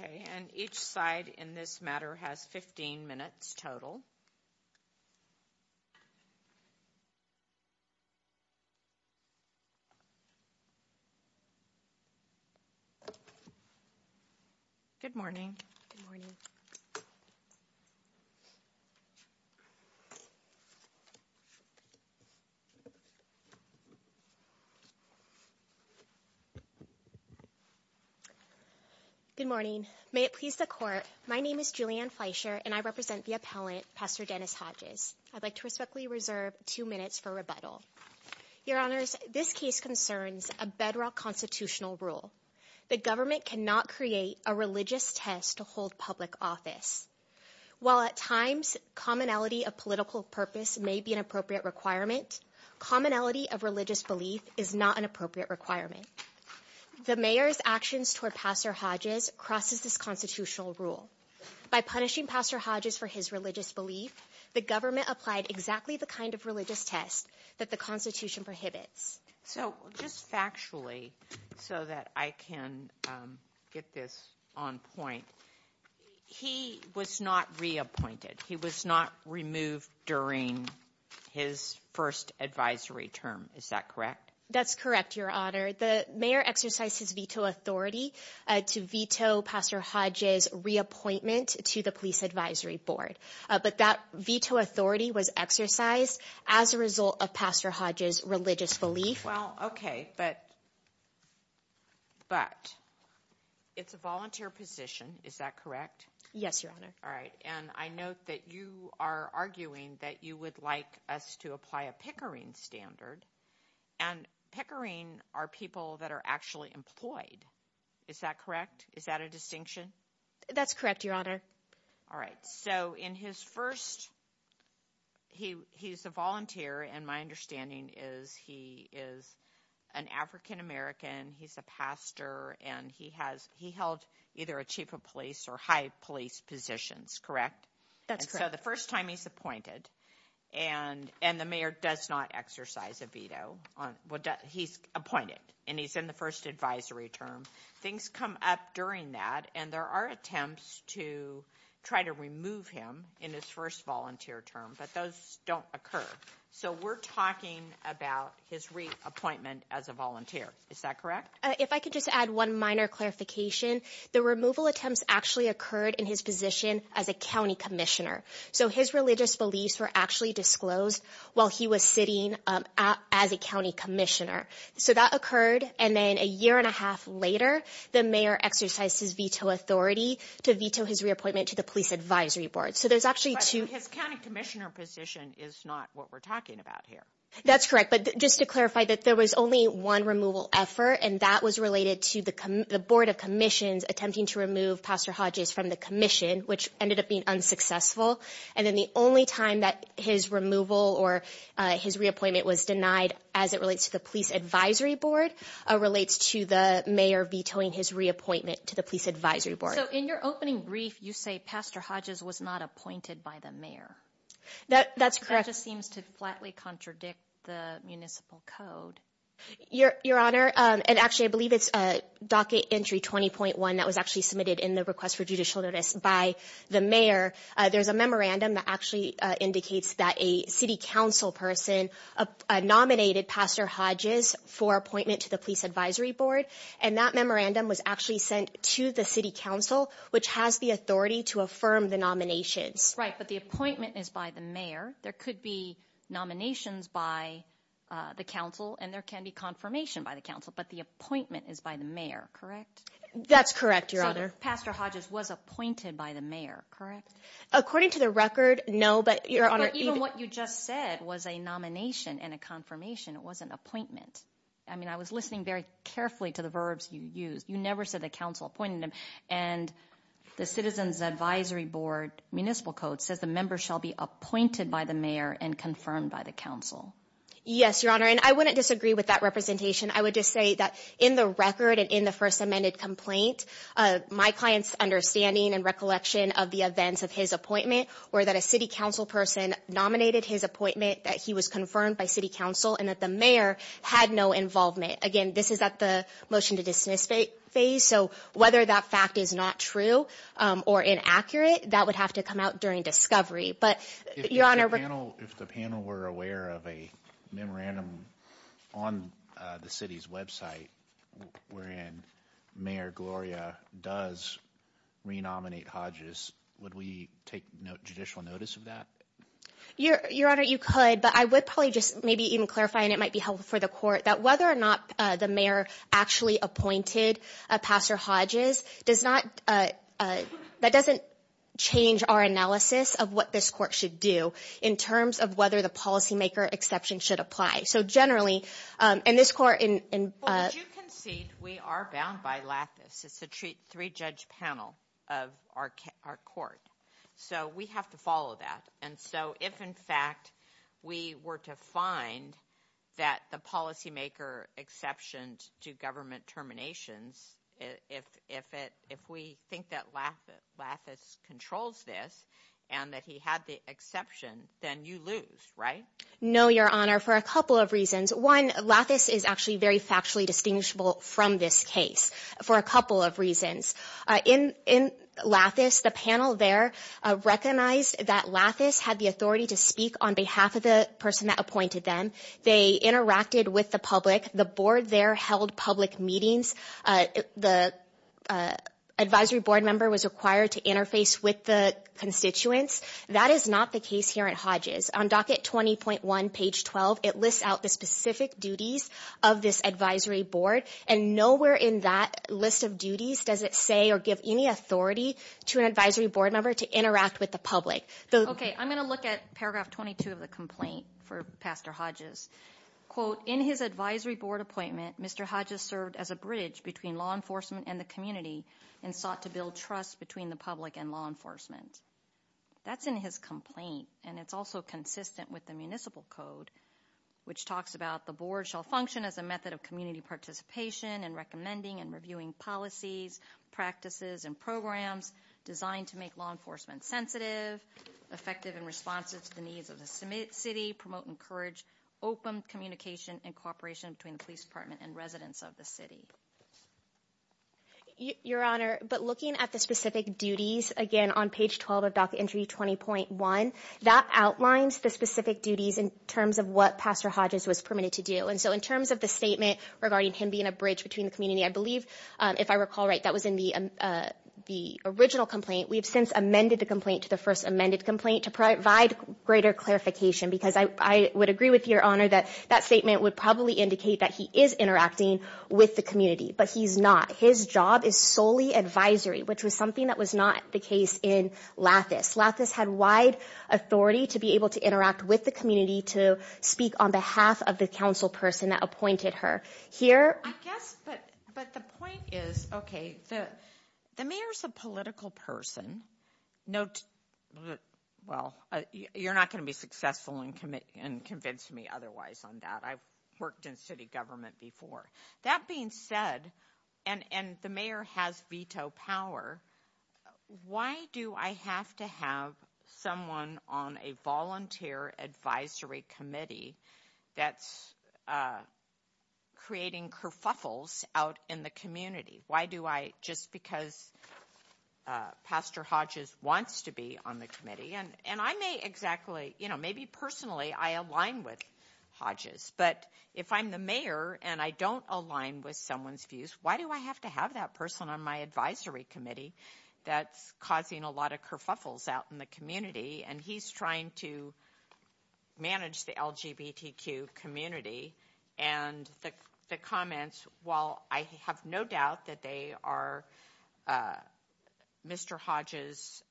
Okay, and each side in this matter has 15 minutes total. Good morning, good morning. Good morning. May it please the court. My name is Julianne Fleischer and I represent the appellant, Pastor Dennis Hodges. I'd like to respectfully reserve two minutes for rebuttal. Your honors, this case concerns a bedrock constitutional rule. The government cannot create a religious test to hold public office. While at times commonality of political purpose may be an appropriate requirement, commonality of religious belief is not an appropriate requirement. The mayor's actions toward Pastor Hodges crosses this constitutional rule. By punishing Pastor Hodges for his religious belief, the government applied exactly the kind of religious test that the Constitution prohibits. So just factually, so that I can get this on point, he was not reappointed. He was not removed during his first advisory term. Is that correct? That's correct, your honor. The mayor exercised his veto authority to veto Pastor Hodges' reappointment to the police advisory board, but that veto authority was exercised as a result of Pastor Hodges' religious belief. Well, okay, but, but it's a volunteer position. Is that correct? Yes, your honor. All right. And I note that you are arguing that you would like us to apply a Pickering standard and Pickering are people that are actually employed. Is that correct? Is that a distinction? That's correct, your honor. All right. So in his first, he, he's a volunteer and my understanding is he is an African-American. He's a pastor and he has, he held either a chief of police or high police positions, correct? That's correct. So the first time he's appointed and, and the mayor does not exercise a veto on, well he's appointed and he's in the first advisory term, things come up during that and there are attempts to try to remove him in his first volunteer term, but those don't occur. So we're talking about his reappointment as a volunteer. Is that correct? If I could just add one minor clarification, the removal attempts actually occurred in his position as a county commissioner. So his religious beliefs were actually disclosed while he was sitting as a county commissioner. So that occurred. And then a year and a half later, the mayor exercised his veto authority to veto his reappointment to the police advisory board. So there's actually two. His county commissioner position is not what we're talking about here. That's correct. But just to clarify that there was only one removal effort and that was related to the board of commissions attempting to remove Pastor Hodges from the commission, which ended up being unsuccessful. And then the only time that his removal or his reappointment was denied as it relates to the police advisory board, relates to the mayor vetoing his reappointment to the police advisory board. So in your opening brief, you say Pastor Hodges was not appointed by the mayor. That's correct. That just seems to flatly contradict the municipal code. Your Honor, and actually I believe it's a docket entry 20.1 that was actually submitted in the request for judicial notice by the mayor. There's a memorandum that actually indicates that a city council person nominated Pastor Hodges for appointment to the police advisory board. And that memorandum was actually sent to the city council, which has the authority to affirm the nominations. Right. But the appointment is by the mayor. There could be nominations by the council and there can be confirmation by the council, but the appointment is by the mayor. Correct? That's correct. Your Honor. Pastor Hodges was appointed by the mayor. Correct. According to the record. No, but your Honor, even what you just said was a nomination and a confirmation. It wasn't appointment. I mean, I was listening very carefully to the verbs you use. You never said the council appointed him and the citizens advisory board municipal code says the member shall be appointed by the mayor and confirmed by the council. Yes, your Honor. And I wouldn't disagree with that representation. I would just say that in the record and in the first amended complaint, my client's understanding and recollection of the events of his appointment or that a city council person nominated his appointment that he was confirmed by city council and that the mayor had no involvement. Again, this is at the motion to dismiss phase. So whether that fact is not true or inaccurate, that would have to come out during discovery. But your Honor. If the panel, if the panel were aware of a memorandum on the city's website where in Mayor Gloria does re nominate Hodges, would we take no judicial notice of that? Your Honor, you could, but I would probably just maybe even clarify and it might be helpful for the court that whether or not the mayor actually appointed a pastor Hodges does not. That doesn't change our analysis of what this court should do in terms of whether the policymaker exception should apply. So generally, and this court in. Would you concede we are bound by lattice, it's a three judge panel of our court. So we have to follow that. And so if in fact we were to find that the policymaker exceptions to government terminations, if we think that lattice controls this and that he had the exception, then you lose, right? No, Your Honor, for a couple of reasons. One, lattice is actually very factually distinguishable from this case for a couple of reasons. In lattice, the panel there recognized that lattice had the authority to speak on behalf of the person that appointed them. They interacted with the public. The board there held public meetings. The advisory board member was required to interface with the constituents. That is not the case here at Hodges. On docket 20.1, page 12, it lists out the specific duties of this advisory board. And nowhere in that list of duties does it say or give any authority to an advisory board member to interact with the public. Okay, I'm going to look at paragraph 22 of the complaint for Pastor Hodges. Quote, in his advisory board appointment, Mr. Hodges served as a bridge between law enforcement and the community and sought to build trust between the public and law enforcement. That's in his complaint, and it's also consistent with the municipal code, which talks about the board shall function as a method of community participation in recommending and reviewing policies, practices, and programs designed to make law enforcement sensitive, effective in response to the needs of the city, promote and encourage open communication and cooperation between the police department and residents of the city. Your Honor, but looking at the specific duties, again, on page 12 of docket entry 20.1, that outlines the specific duties in terms of what Pastor Hodges was permitted to do. And so in terms of the statement regarding him being a bridge between the community, I believe, if I recall right, that was in the original complaint. We have since amended the complaint to the first amended complaint to provide greater clarification because I would agree with Your Honor that that statement would probably indicate that he is interacting with the community, but he's not. His job is solely advisory, which was something that was not the case in Lathis. Lathis had wide authority to be able to interact with the community to speak on behalf of the council person that appointed her. I guess, but the point is, okay, the mayor's a political person. Note, well, you're not going to be successful and convince me otherwise on that. I've worked in city government before. That being said, and the mayor has veto power, why do I have to have someone on a volunteer advisory committee that's creating kerfuffles out in the community? Why do I, just because Pastor Hodges wants to be on the committee, and I may exactly, you know, maybe personally I align with Hodges, but if I'm the mayor and I don't align with someone's views, why do I have to have that person on my advisory committee that's causing a lot of kerfuffles out in the community? And he's trying to manage the LGBTQ community. And the comments, while I have no doubt that they are Mr. Hodges'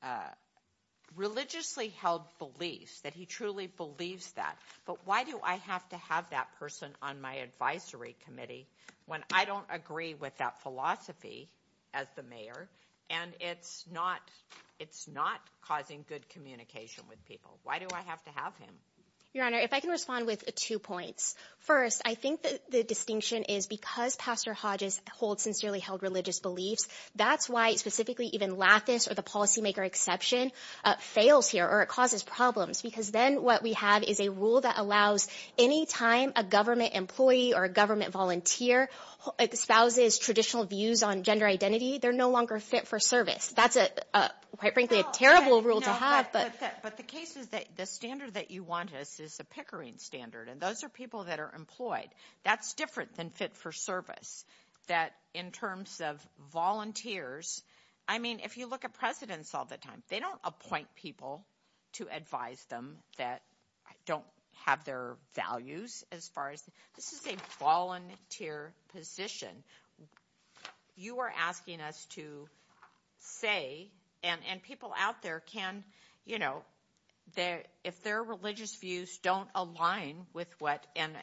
religiously held beliefs, that he truly believes that, but why do I have to have that person on my advisory committee when I don't agree with that philosophy as the mayor, and it's not causing good communication with people? Why do I have to have him? Your Honor, if I can respond with two points. First, I think the distinction is because Pastor Hodges holds sincerely held religious beliefs, that's why specifically even Lathis or the policymaker exception fails here, or it causes problems, because then what we have is a rule that allows any time a government employee or a government volunteer espouses traditional views on gender identity, they're no longer fit for service. That's, quite frankly, a terrible rule to have. But the case is that the standard that you want is a Pickering standard, and those are people that are employed. That's different than fit for service, that in terms of volunteers, I mean, if you look at presidents all the time, they don't appoint people to advise them that don't have their values as far as, this is a volunteer position. You are asking us to say, and people out there can, you know, if their religious views don't align with what, and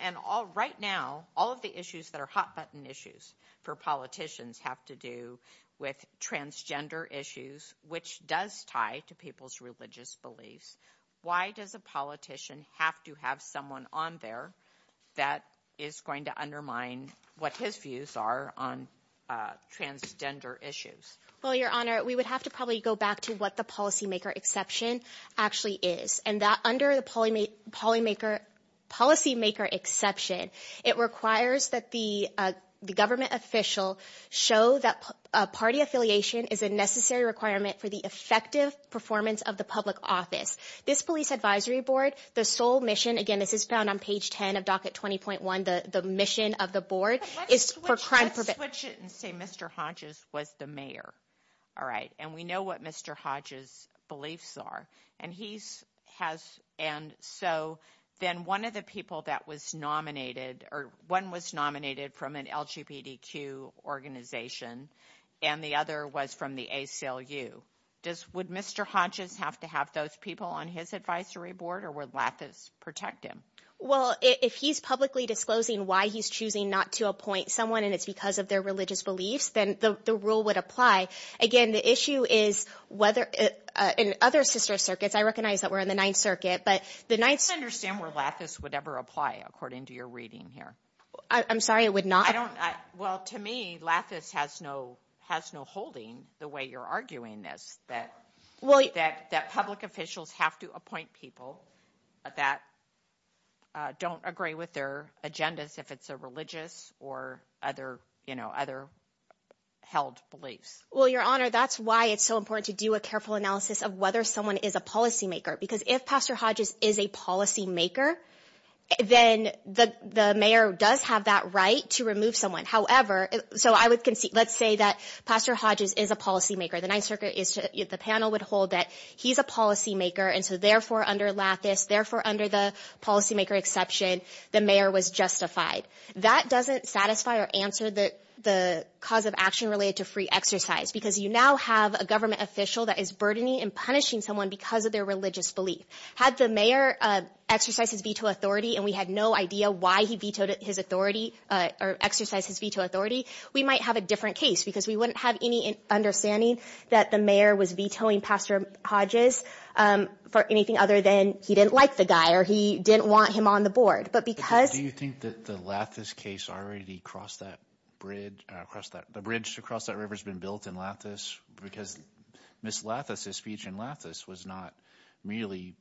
right now, all of the issues that are hot-button issues for politicians have to do with transgender issues, which does tie to people's religious beliefs. Why does a politician have to have someone on there that is going to undermine what his views are on transgender issues? Well, Your Honor, we would have to probably go back to what the policymaker exception actually is, and that under the policymaker exception, it requires that the government official show that party affiliation is a necessary requirement for the effective performance of the public office. This police advisory board, the sole mission, again, this is found on page 10 of Docket 20.1, the mission of the board is for crime prevention. Let's switch it and say Mr. Hodges was the mayor, all right, and we know what Mr. Hodges' beliefs are, and he has, and so then one of the people that was nominated, or one was nominated from an LGBTQ organization, and the other was from the ACLU. Would Mr. Hodges have to have those people on his advisory board, or would Lathis protect him? Well, if he's publicly disclosing why he's choosing not to appoint someone and it's because of their religious beliefs, then the rule would apply. Again, the issue is whether in other sister circuits, I recognize that we're in the Ninth Circuit, I don't understand where Lathis would ever apply according to your reading here. I'm sorry, it would not? Well, to me, Lathis has no holding the way you're arguing this, that public officials have to appoint people that don't agree with their agendas if it's a religious or other held beliefs. Well, Your Honor, that's why it's so important to do a careful analysis of whether someone is a policymaker, because if Pastor Hodges is a policymaker, then the mayor does have that right to remove someone. However, so let's say that Pastor Hodges is a policymaker. The panel would hold that he's a policymaker, and so therefore under Lathis, therefore under the policymaker exception, the mayor was justified. That doesn't satisfy or answer the cause of action related to free exercise, because you now have a government official that is burdening and punishing someone because of their religious belief. Had the mayor exercised his veto authority and we had no idea why he vetoed his authority or exercised his veto authority, we might have a different case, because we wouldn't have any understanding that the mayor was vetoing Pastor Hodges for anything other than he didn't like the guy or he didn't want him on the board. Do you think that the Lathis case already crossed that bridge? The bridge to cross that river has been built in Lathis because Ms. Lathis' speech in Lathis was not merely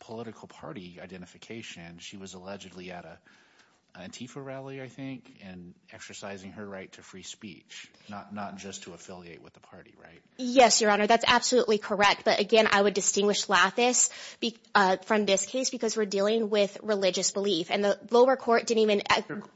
political party identification. She was allegedly at an Antifa rally, I think, and exercising her right to free speech, not just to affiliate with the party, right? Yes, Your Honor, that's absolutely correct, but again, I would distinguish Lathis from this case just because we're dealing with religious belief, and the lower court didn't even...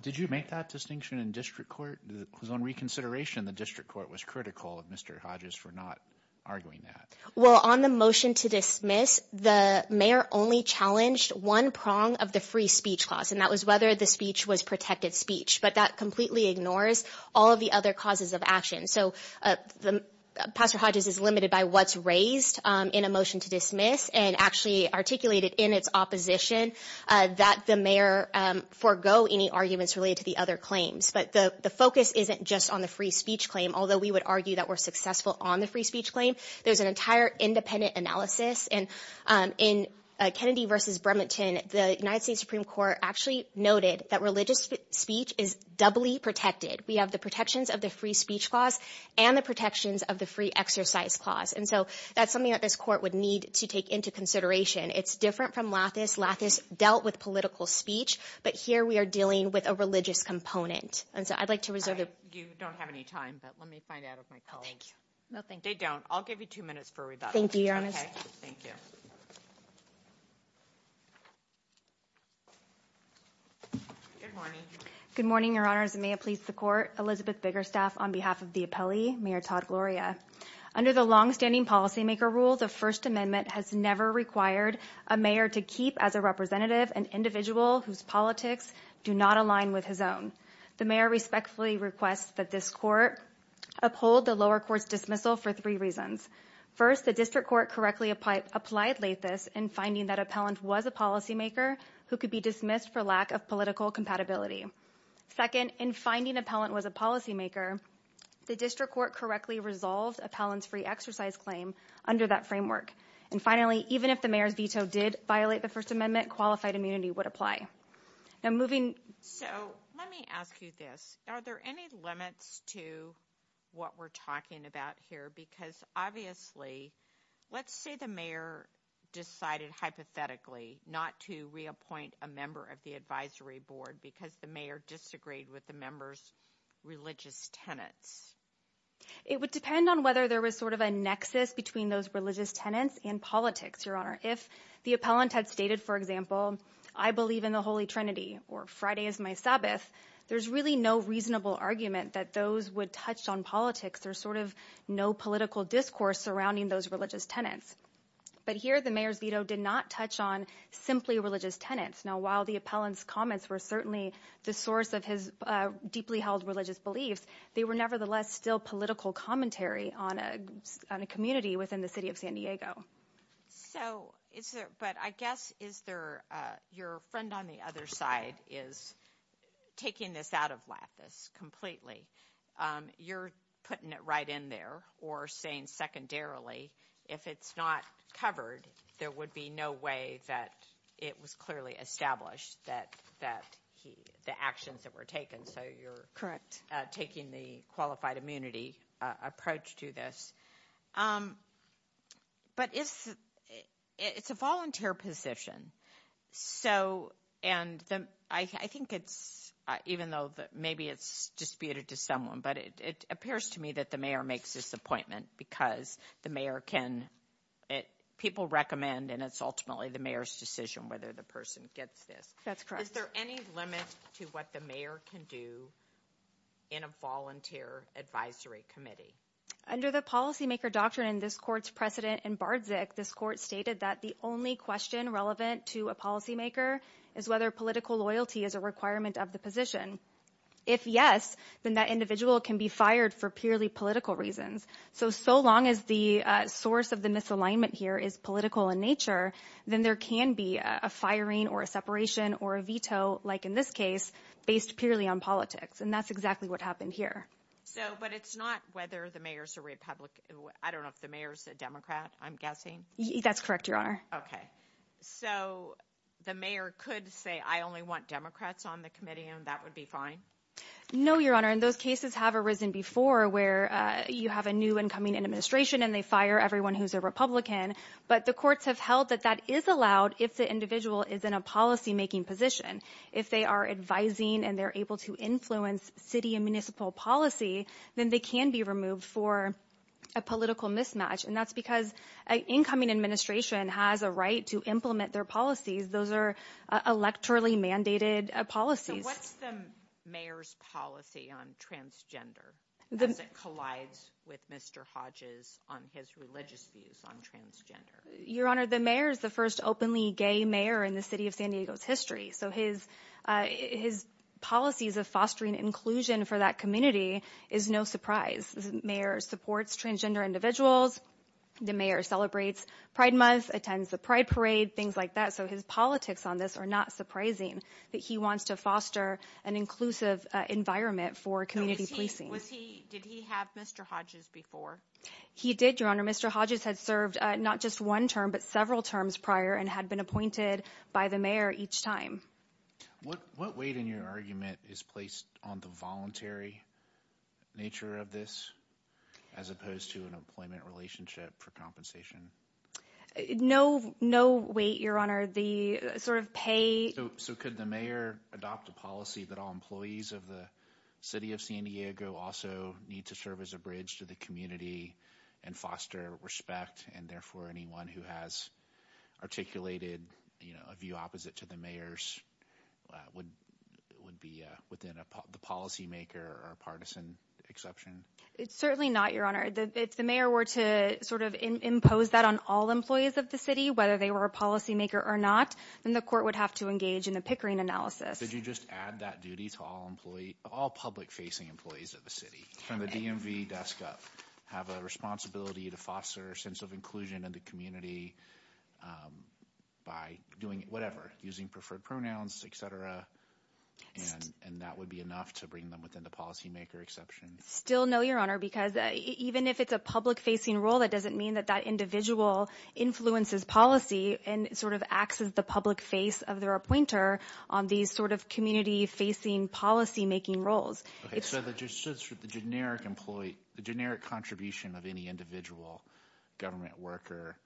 Did you make that distinction in district court? Because on reconsideration, the district court was critical of Mr. Hodges for not arguing that. Well, on the motion to dismiss, the mayor only challenged one prong of the free speech clause, and that was whether the speech was protected speech, but that completely ignores all of the other causes of action. So Pastor Hodges is limited by what's raised in a motion to dismiss and actually articulated in its opposition that the mayor forego any arguments related to the other claims, but the focus isn't just on the free speech claim, although we would argue that we're successful on the free speech claim. There's an entire independent analysis, and in Kennedy v. Bremerton, the United States Supreme Court actually noted that religious speech is doubly protected. We have the protections of the free speech clause and the protections of the free exercise clause, and so that's something that this court would need to take into consideration. It's different from Lathis. Lathis dealt with political speech, but here we are dealing with a religious component, and so I'd like to reserve the... You don't have any time, but let me find out if my colleagues... Oh, thank you. No, thank you. They don't. I'll give you two minutes for rebuttal. Thank you, Your Honor. Okay, thank you. Good morning. Good morning, Your Honors, and may it please the court. Elizabeth Biggerstaff on behalf of the appellee, Mayor Todd Gloria. Under the longstanding policymaker rule, the First Amendment has never required a mayor to keep as a representative an individual whose politics do not align with his own. The mayor respectfully requests that this court uphold the lower court's dismissal for three reasons. First, the district court correctly applied Lathis in finding that appellant was a policymaker who could be dismissed for lack of political compatibility. Second, in finding appellant was a policymaker, the district court correctly resolved appellant's free exercise claim under that framework. And finally, even if the mayor's veto did violate the First Amendment, qualified immunity would apply. Now, moving... So, let me ask you this. Are there any limits to what we're talking about here? Because obviously, let's say the mayor decided hypothetically not to reappoint a member of the advisory board because the mayor disagreed with the member's religious tenets. It would depend on whether there was sort of a nexus between those religious tenets and politics, Your Honor. If the appellant had stated, for example, I believe in the Holy Trinity or Friday is my Sabbath, there's really no reasonable argument that those would touch on politics. There's sort of no political discourse surrounding those religious tenets. But here, the mayor's veto did not touch on simply religious tenets. Now, while the appellant's comments were certainly the source of his deeply held religious beliefs, they were nevertheless still political commentary on a community within the city of San Diego. So, is there... But I guess, is there... Your friend on the other side is taking this out of lattice completely. You're putting it right in there or saying secondarily, if it's not covered, there would be no way that it was clearly established that the actions that were taken. So, you're taking the qualified immunity approach to this. But it's a volunteer position. So, and I think it's, even though maybe it's disputed to someone, but it appears to me that the mayor makes this appointment because the mayor can... People recommend and it's ultimately the mayor's decision whether the person gets this. That's correct. Is there any limit to what the mayor can do in a volunteer advisory committee? Under the policymaker doctrine in this court's precedent in Bardzik, this court stated that the only question relevant to a policymaker is whether political loyalty is a requirement of the position. If yes, then that individual can be fired for purely political reasons. So, so long as the source of the misalignment here is political in nature, then there can be a firing or a separation or a veto, like in this case, based purely on politics. And that's exactly what happened here. So, but it's not whether the mayor's a Republican. I don't know if the mayor's a Democrat, I'm guessing. That's correct, Your Honor. Okay. So the mayor could say, I only want Democrats on the committee and that would be fine? No, Your Honor. And those cases have arisen before where you have a new incoming administration and they fire everyone who's a Republican. But the courts have held that that is allowed if the individual is in a policymaking position. If they are advising and they're able to influence city and municipal policy, then they can be removed for a political mismatch. And that's because an incoming administration has a right to implement their policies. Those are electorally mandated policies. So what's the mayor's policy on transgender as it collides with Mr. Hodge's on his religious views on transgender? Your Honor, the mayor is the first openly gay mayor in the city of San Diego's history. So his policies of fostering inclusion for that community is no surprise. The mayor supports transgender individuals. The mayor celebrates Pride Month, attends the Pride Parade, things like that. So his politics on this are not surprising that he wants to foster an inclusive environment for community policing. Did he have Mr. Hodges before? He did, Your Honor. Mr. Hodges had served not just one term but several terms prior and had been appointed by the mayor each time. What weight in your argument is placed on the voluntary nature of this as opposed to an employment relationship for compensation? No weight, Your Honor. The sort of pay— So could the mayor adopt a policy that all employees of the city of San Diego also need to serve as a bridge to the community and foster respect and therefore anyone who has articulated, you know, a view opposite to the mayor's would be within the policymaker or partisan exception? It's certainly not, Your Honor. If the mayor were to sort of impose that on all employees of the city, whether they were a policymaker or not, then the court would have to engage in a pickering analysis. Did you just add that duty to all public-facing employees of the city? From the DMV desk up, have a responsibility to foster a sense of inclusion in the community by doing whatever, using preferred pronouns, et cetera, and that would be enough to bring them within the policymaker exception? Still no, Your Honor, because even if it's a public-facing role, that doesn't mean that that individual influences policy and sort of acts as the public face of their appointer on these sort of community-facing policymaking roles. So the generic employee, the generic contribution of any individual government worker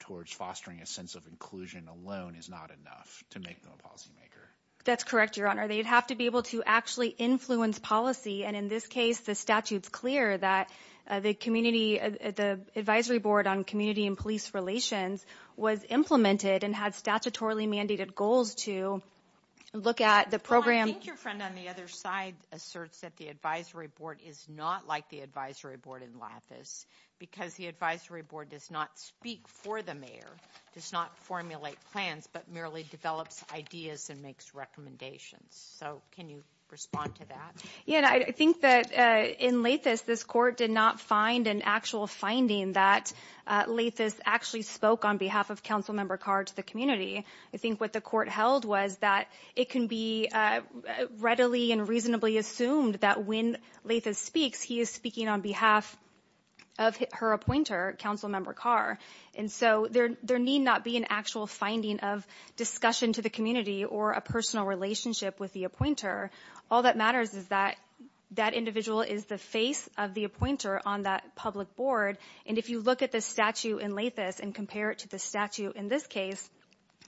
towards fostering a sense of inclusion alone is not enough to make them a policymaker? That's correct, Your Honor. They'd have to be able to actually influence policy, and in this case, the statute's clear that the advisory board on community and police relations was implemented and had statutorily mandated goals to look at the program. I think your friend on the other side asserts that the advisory board is not like the advisory board in Lathis because the advisory board does not speak for the mayor, does not formulate plans, but merely develops ideas and makes recommendations. So can you respond to that? Yeah, and I think that in Lathis, this court did not find an actual finding that Lathis actually spoke on behalf of Councilmember Carr to the community. I think what the court held was that it can be readily and reasonably assumed that when Lathis speaks, he is speaking on behalf of her appointer, Councilmember Carr. And so there need not be an actual finding of discussion to the community or a personal relationship with the appointer. All that matters is that that individual is the face of the appointer on that public board. And if you look at the statute in Lathis and compare it to the statute in this case,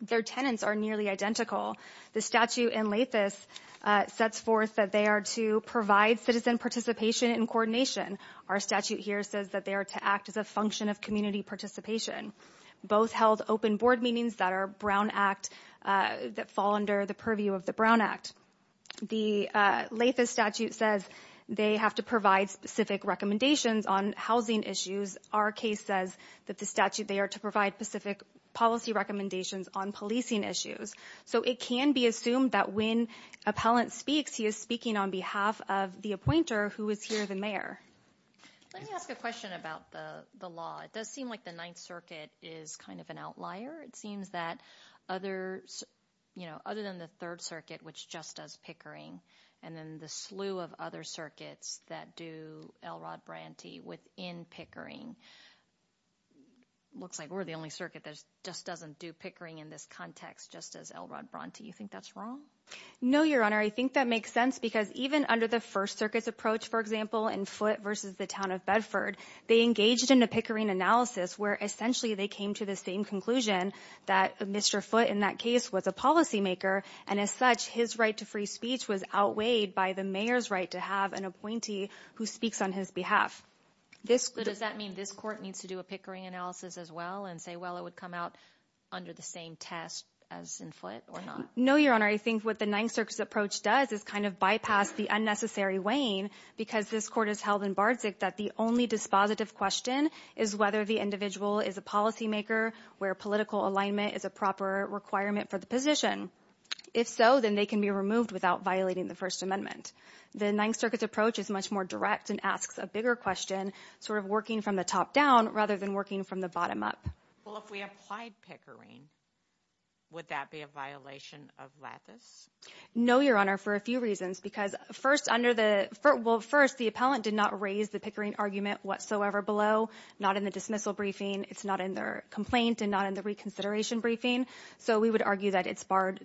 their tenants are nearly identical. The statute in Lathis sets forth that they are to provide citizen participation and coordination. Our statute here says that they are to act as a function of community participation. Both held open board meetings that fall under the purview of the Brown Act. The Lathis statute says they have to provide specific recommendations on housing issues. Our case says that the statute they are to provide specific policy recommendations on policing issues. So it can be assumed that when appellant speaks, he is speaking on behalf of the appointer who is here, the mayor. Let me ask a question about the law. It does seem like the Ninth Circuit is kind of an outlier. It seems that other than the Third Circuit, which just does Pickering, and then the slew of other circuits that do Elrod Bronte within Pickering, looks like we're the only circuit that just doesn't do Pickering in this context, just as Elrod Bronte. Do you think that's wrong? No, Your Honor. I think that makes sense because even under the First Circuit's approach, for example, in Foote versus the town of Bedford, they engaged in a Pickering analysis where essentially they came to the same conclusion that Mr. Foote in that case was a policymaker. And as such, his right to free speech was outweighed by the mayor's right to have an appointee who speaks on his behalf. Does that mean this court needs to do a Pickering analysis as well and say, well, it would come out under the same test as in Foote or not? No, Your Honor. I think what the Ninth Circuit's approach does is kind of bypass the unnecessary weighing because this court has held in Bardzig that the only dispositive question is whether the individual is a policymaker where political alignment is a proper requirement for the position. If so, then they can be removed without violating the First Amendment. The Ninth Circuit's approach is much more direct and asks a bigger question, sort of working from the top down rather than working from the bottom up. Well, if we applied Pickering, would that be a violation of lattice? No, Your Honor, for a few reasons. Because first under the first, the appellant did not raise the Pickering argument whatsoever below, not in the dismissal briefing. It's not in their complaint and not in the reconsideration briefing. So we would argue that it's barred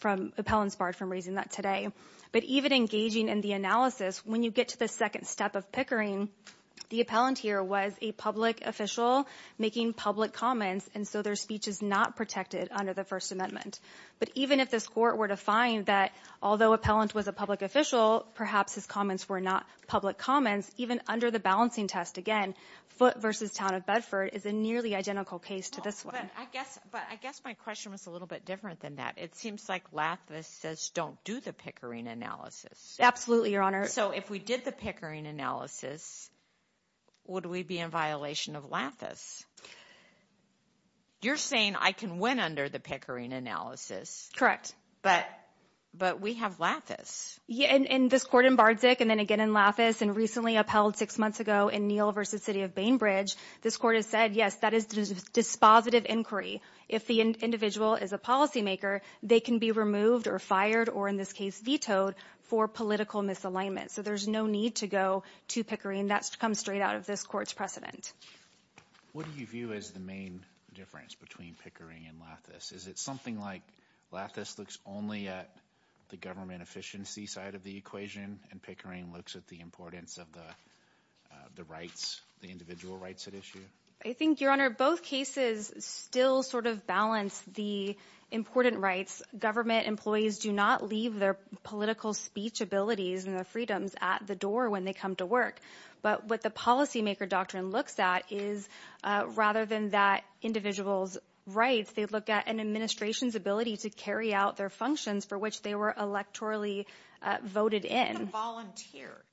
from appellants barred from raising that today. But even engaging in the analysis, when you get to the second step of Pickering, the appellant here was a public official making public comments. And so their speech is not protected under the First Amendment. But even if this court were to find that although appellant was a public official, perhaps his comments were not public comments, even under the balancing test, again, Foote versus Town of Bedford is a nearly identical case to this one. But I guess my question was a little bit different than that. It seems like lattice says don't do the Pickering analysis. Absolutely, Your Honor. So if we did the Pickering analysis, would we be in violation of lattice? You're saying I can win under the Pickering analysis. Correct. But we have lattice. Yeah, and this court in Bardzig and then again in lattice and recently upheld six months ago in Neal versus City of Bainbridge, this court has said, yes, that is dispositive inquiry. If the individual is a policymaker, they can be removed or fired or in this case vetoed for political misalignment. So there's no need to go to Pickering. That's come straight out of this court's precedent. What do you view as the main difference between Pickering and lattice? Is it something like lattice looks only at the government efficiency side of the equation and Pickering looks at the importance of the rights, the individual rights at issue? I think, Your Honor, both cases still sort of balance the important rights. Government employees do not leave their political speech abilities and their freedoms at the door when they come to work. But what the policymaker doctrine looks at is rather than that individual's rights, they look at an administration's ability to carry out their functions for which they were electorally voted in.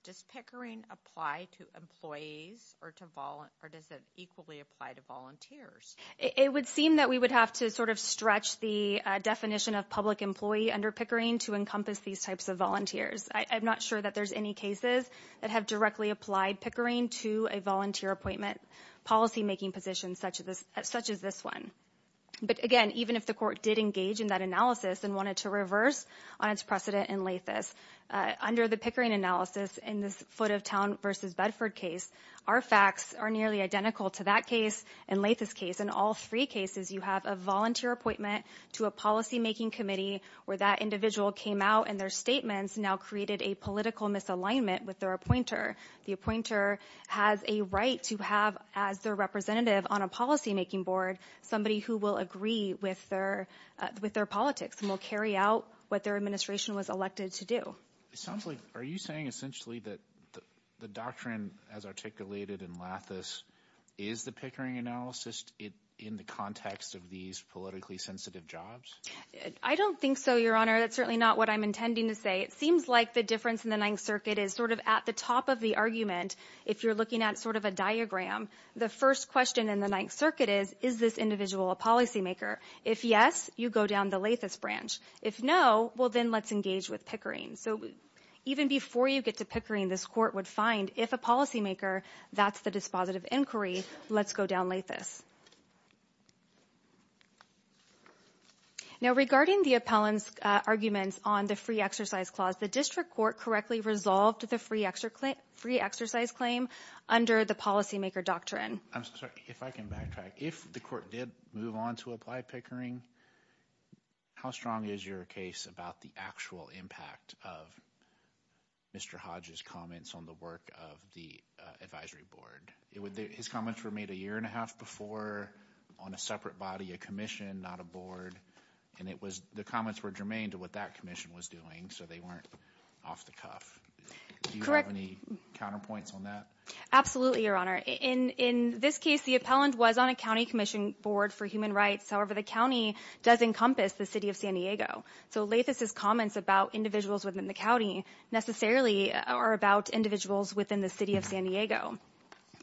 Does Pickering apply to employees or does it equally apply to volunteers? It would seem that we would have to sort of stretch the definition of public employee under Pickering to encompass these types of volunteers. I'm not sure that there's any cases that have directly applied Pickering to a volunteer appointment policymaking position such as this one. But again, even if the court did engage in that analysis and wanted to reverse on its precedent in lattice, under the Pickering analysis in this Foot of Town v. Bedford case, our facts are nearly identical to that case and lattice case. In all three cases, you have a volunteer appointment to a policymaking committee where that individual came out and their statements now created a political misalignment with their appointer. The appointer has a right to have as their representative on a policymaking board somebody who will agree with their politics and will carry out what their administration was elected to do. Are you saying essentially that the doctrine as articulated in lattice is the Pickering analysis in the context of these politically sensitive jobs? I don't think so, Your Honor. That's certainly not what I'm intending to say. It seems like the difference in the Ninth Circuit is sort of at the top of the argument. If you're looking at sort of a diagram, the first question in the Ninth Circuit is, is this individual a policymaker? If yes, you go down the lattice branch. If no, well then let's engage with Pickering. So even before you get to Pickering, this court would find if a policymaker, that's the dispositive inquiry, let's go down lattice. Now regarding the appellant's arguments on the free exercise clause, the district court correctly resolved the free exercise claim under the policymaker doctrine. I'm sorry. If I can backtrack, if the court did move on to apply Pickering, how strong is your case about the actual impact of Mr. Hodge's comments on the work of the advisory board? His comments were made a year and a half before on a separate body, a commission, not a board, and the comments were germane to what that commission was doing, so they weren't off the cuff. Do you have any counterpoints on that? Absolutely, Your Honor. In this case, the appellant was on a county commission board for human rights. However, the county does encompass the city of San Diego. So Lathis's comments about individuals within the county necessarily are about individuals within the city of San Diego.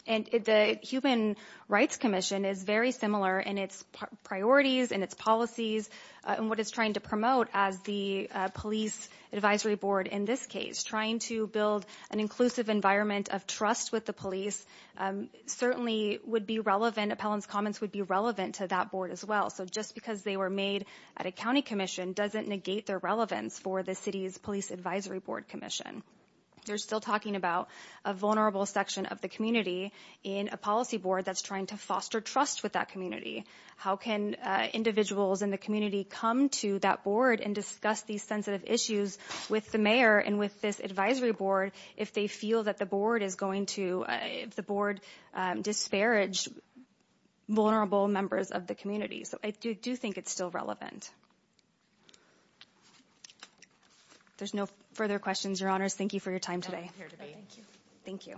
And the Human Rights Commission is very similar in its priorities and its policies and what it's trying to promote as the police advisory board in this case, trying to build an inclusive environment of trust with the police certainly would be relevant. Appellant's comments would be relevant to that board as well. So just because they were made at a county commission doesn't negate their relevance for the city's police advisory board commission. They're still talking about a vulnerable section of the community in a policy board that's trying to foster trust with that community. How can individuals in the community come to that board and discuss these sensitive issues with the mayor and with this advisory board if they feel that the board is going to disparage vulnerable members of the community? So I do think it's still relevant. If there's no further questions, Your Honors, thank you for your time today. Thank you.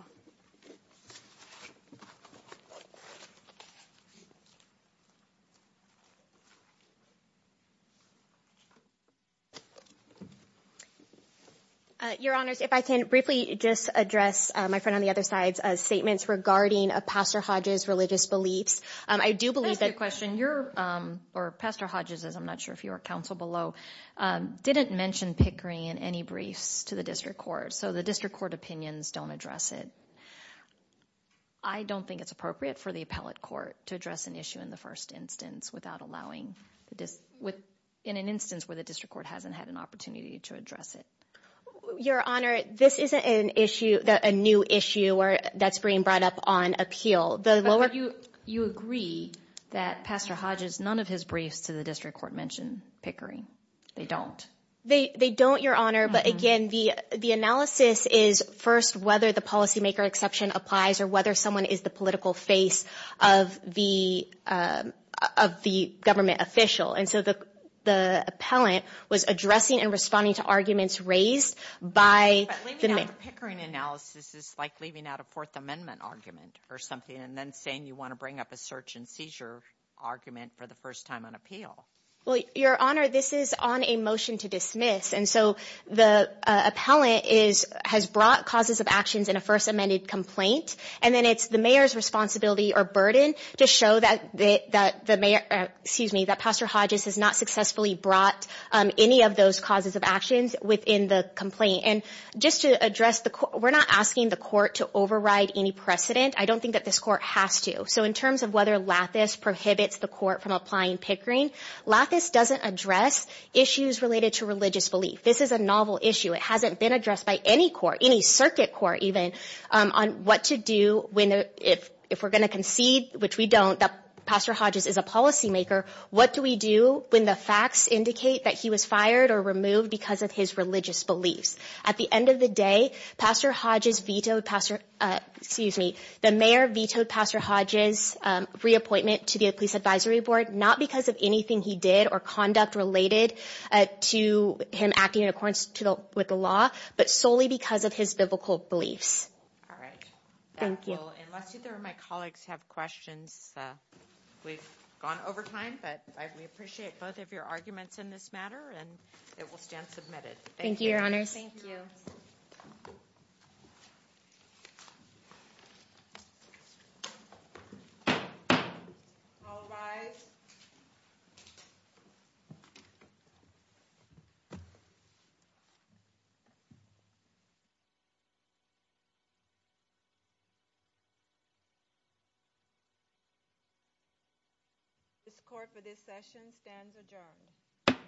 Your Honors, if I can briefly just address my friend on the other side's statements regarding Pastor Hodges' religious beliefs. I do believe that- Can I ask you a question? Pastor Hodges, as I'm not sure if you are counsel below, didn't mention Pickering in any briefs to the district court. So the district court opinions don't address it. I don't think it's appropriate for the appellate court to address an issue in the first instance without allowing- in an instance where the district court hasn't had an opportunity to address it. Your Honor, this isn't an issue, a new issue that's being brought up on appeal. You agree that Pastor Hodges, none of his briefs to the district court mention Pickering. They don't. They don't, Your Honor, but again, the analysis is first whether the policymaker exception applies or whether someone is the political face of the government official. And so the appellant was addressing and responding to arguments raised by the- But leaving out the Pickering analysis is like leaving out a Fourth Amendment argument or something and then saying you want to bring up a search and seizure argument for the first time on appeal. Well, Your Honor, this is on a motion to dismiss. And so the appellant has brought causes of actions in a first amended complaint. And then it's the mayor's responsibility or burden to show that the mayor- excuse me, that Pastor Hodges has not successfully brought any of those causes of actions within the complaint. And just to address the- we're not asking the court to override any precedent. I don't think that this court has to. So in terms of whether Lathis prohibits the court from applying Pickering, Lathis doesn't address issues related to religious belief. This is a novel issue. It hasn't been addressed by any court, any circuit court even, on what to do when- if we're going to concede, which we don't, that Pastor Hodges is a policymaker, what do we do when the facts indicate that he was fired or removed because of his religious beliefs? At the end of the day, Pastor Hodges vetoed Pastor- excuse me, the mayor vetoed Pastor Hodges' reappointment to the police advisory board, not because of anything he did or conduct related to him acting in accordance with the law, but solely because of his biblical beliefs. All right. Thank you. Unless either of my colleagues have questions, we've gone over time, but we appreciate both of your arguments in this matter, and it will stand submitted. Thank you, Your Honors. Thank you. All rise. This court for this session stands adjourned.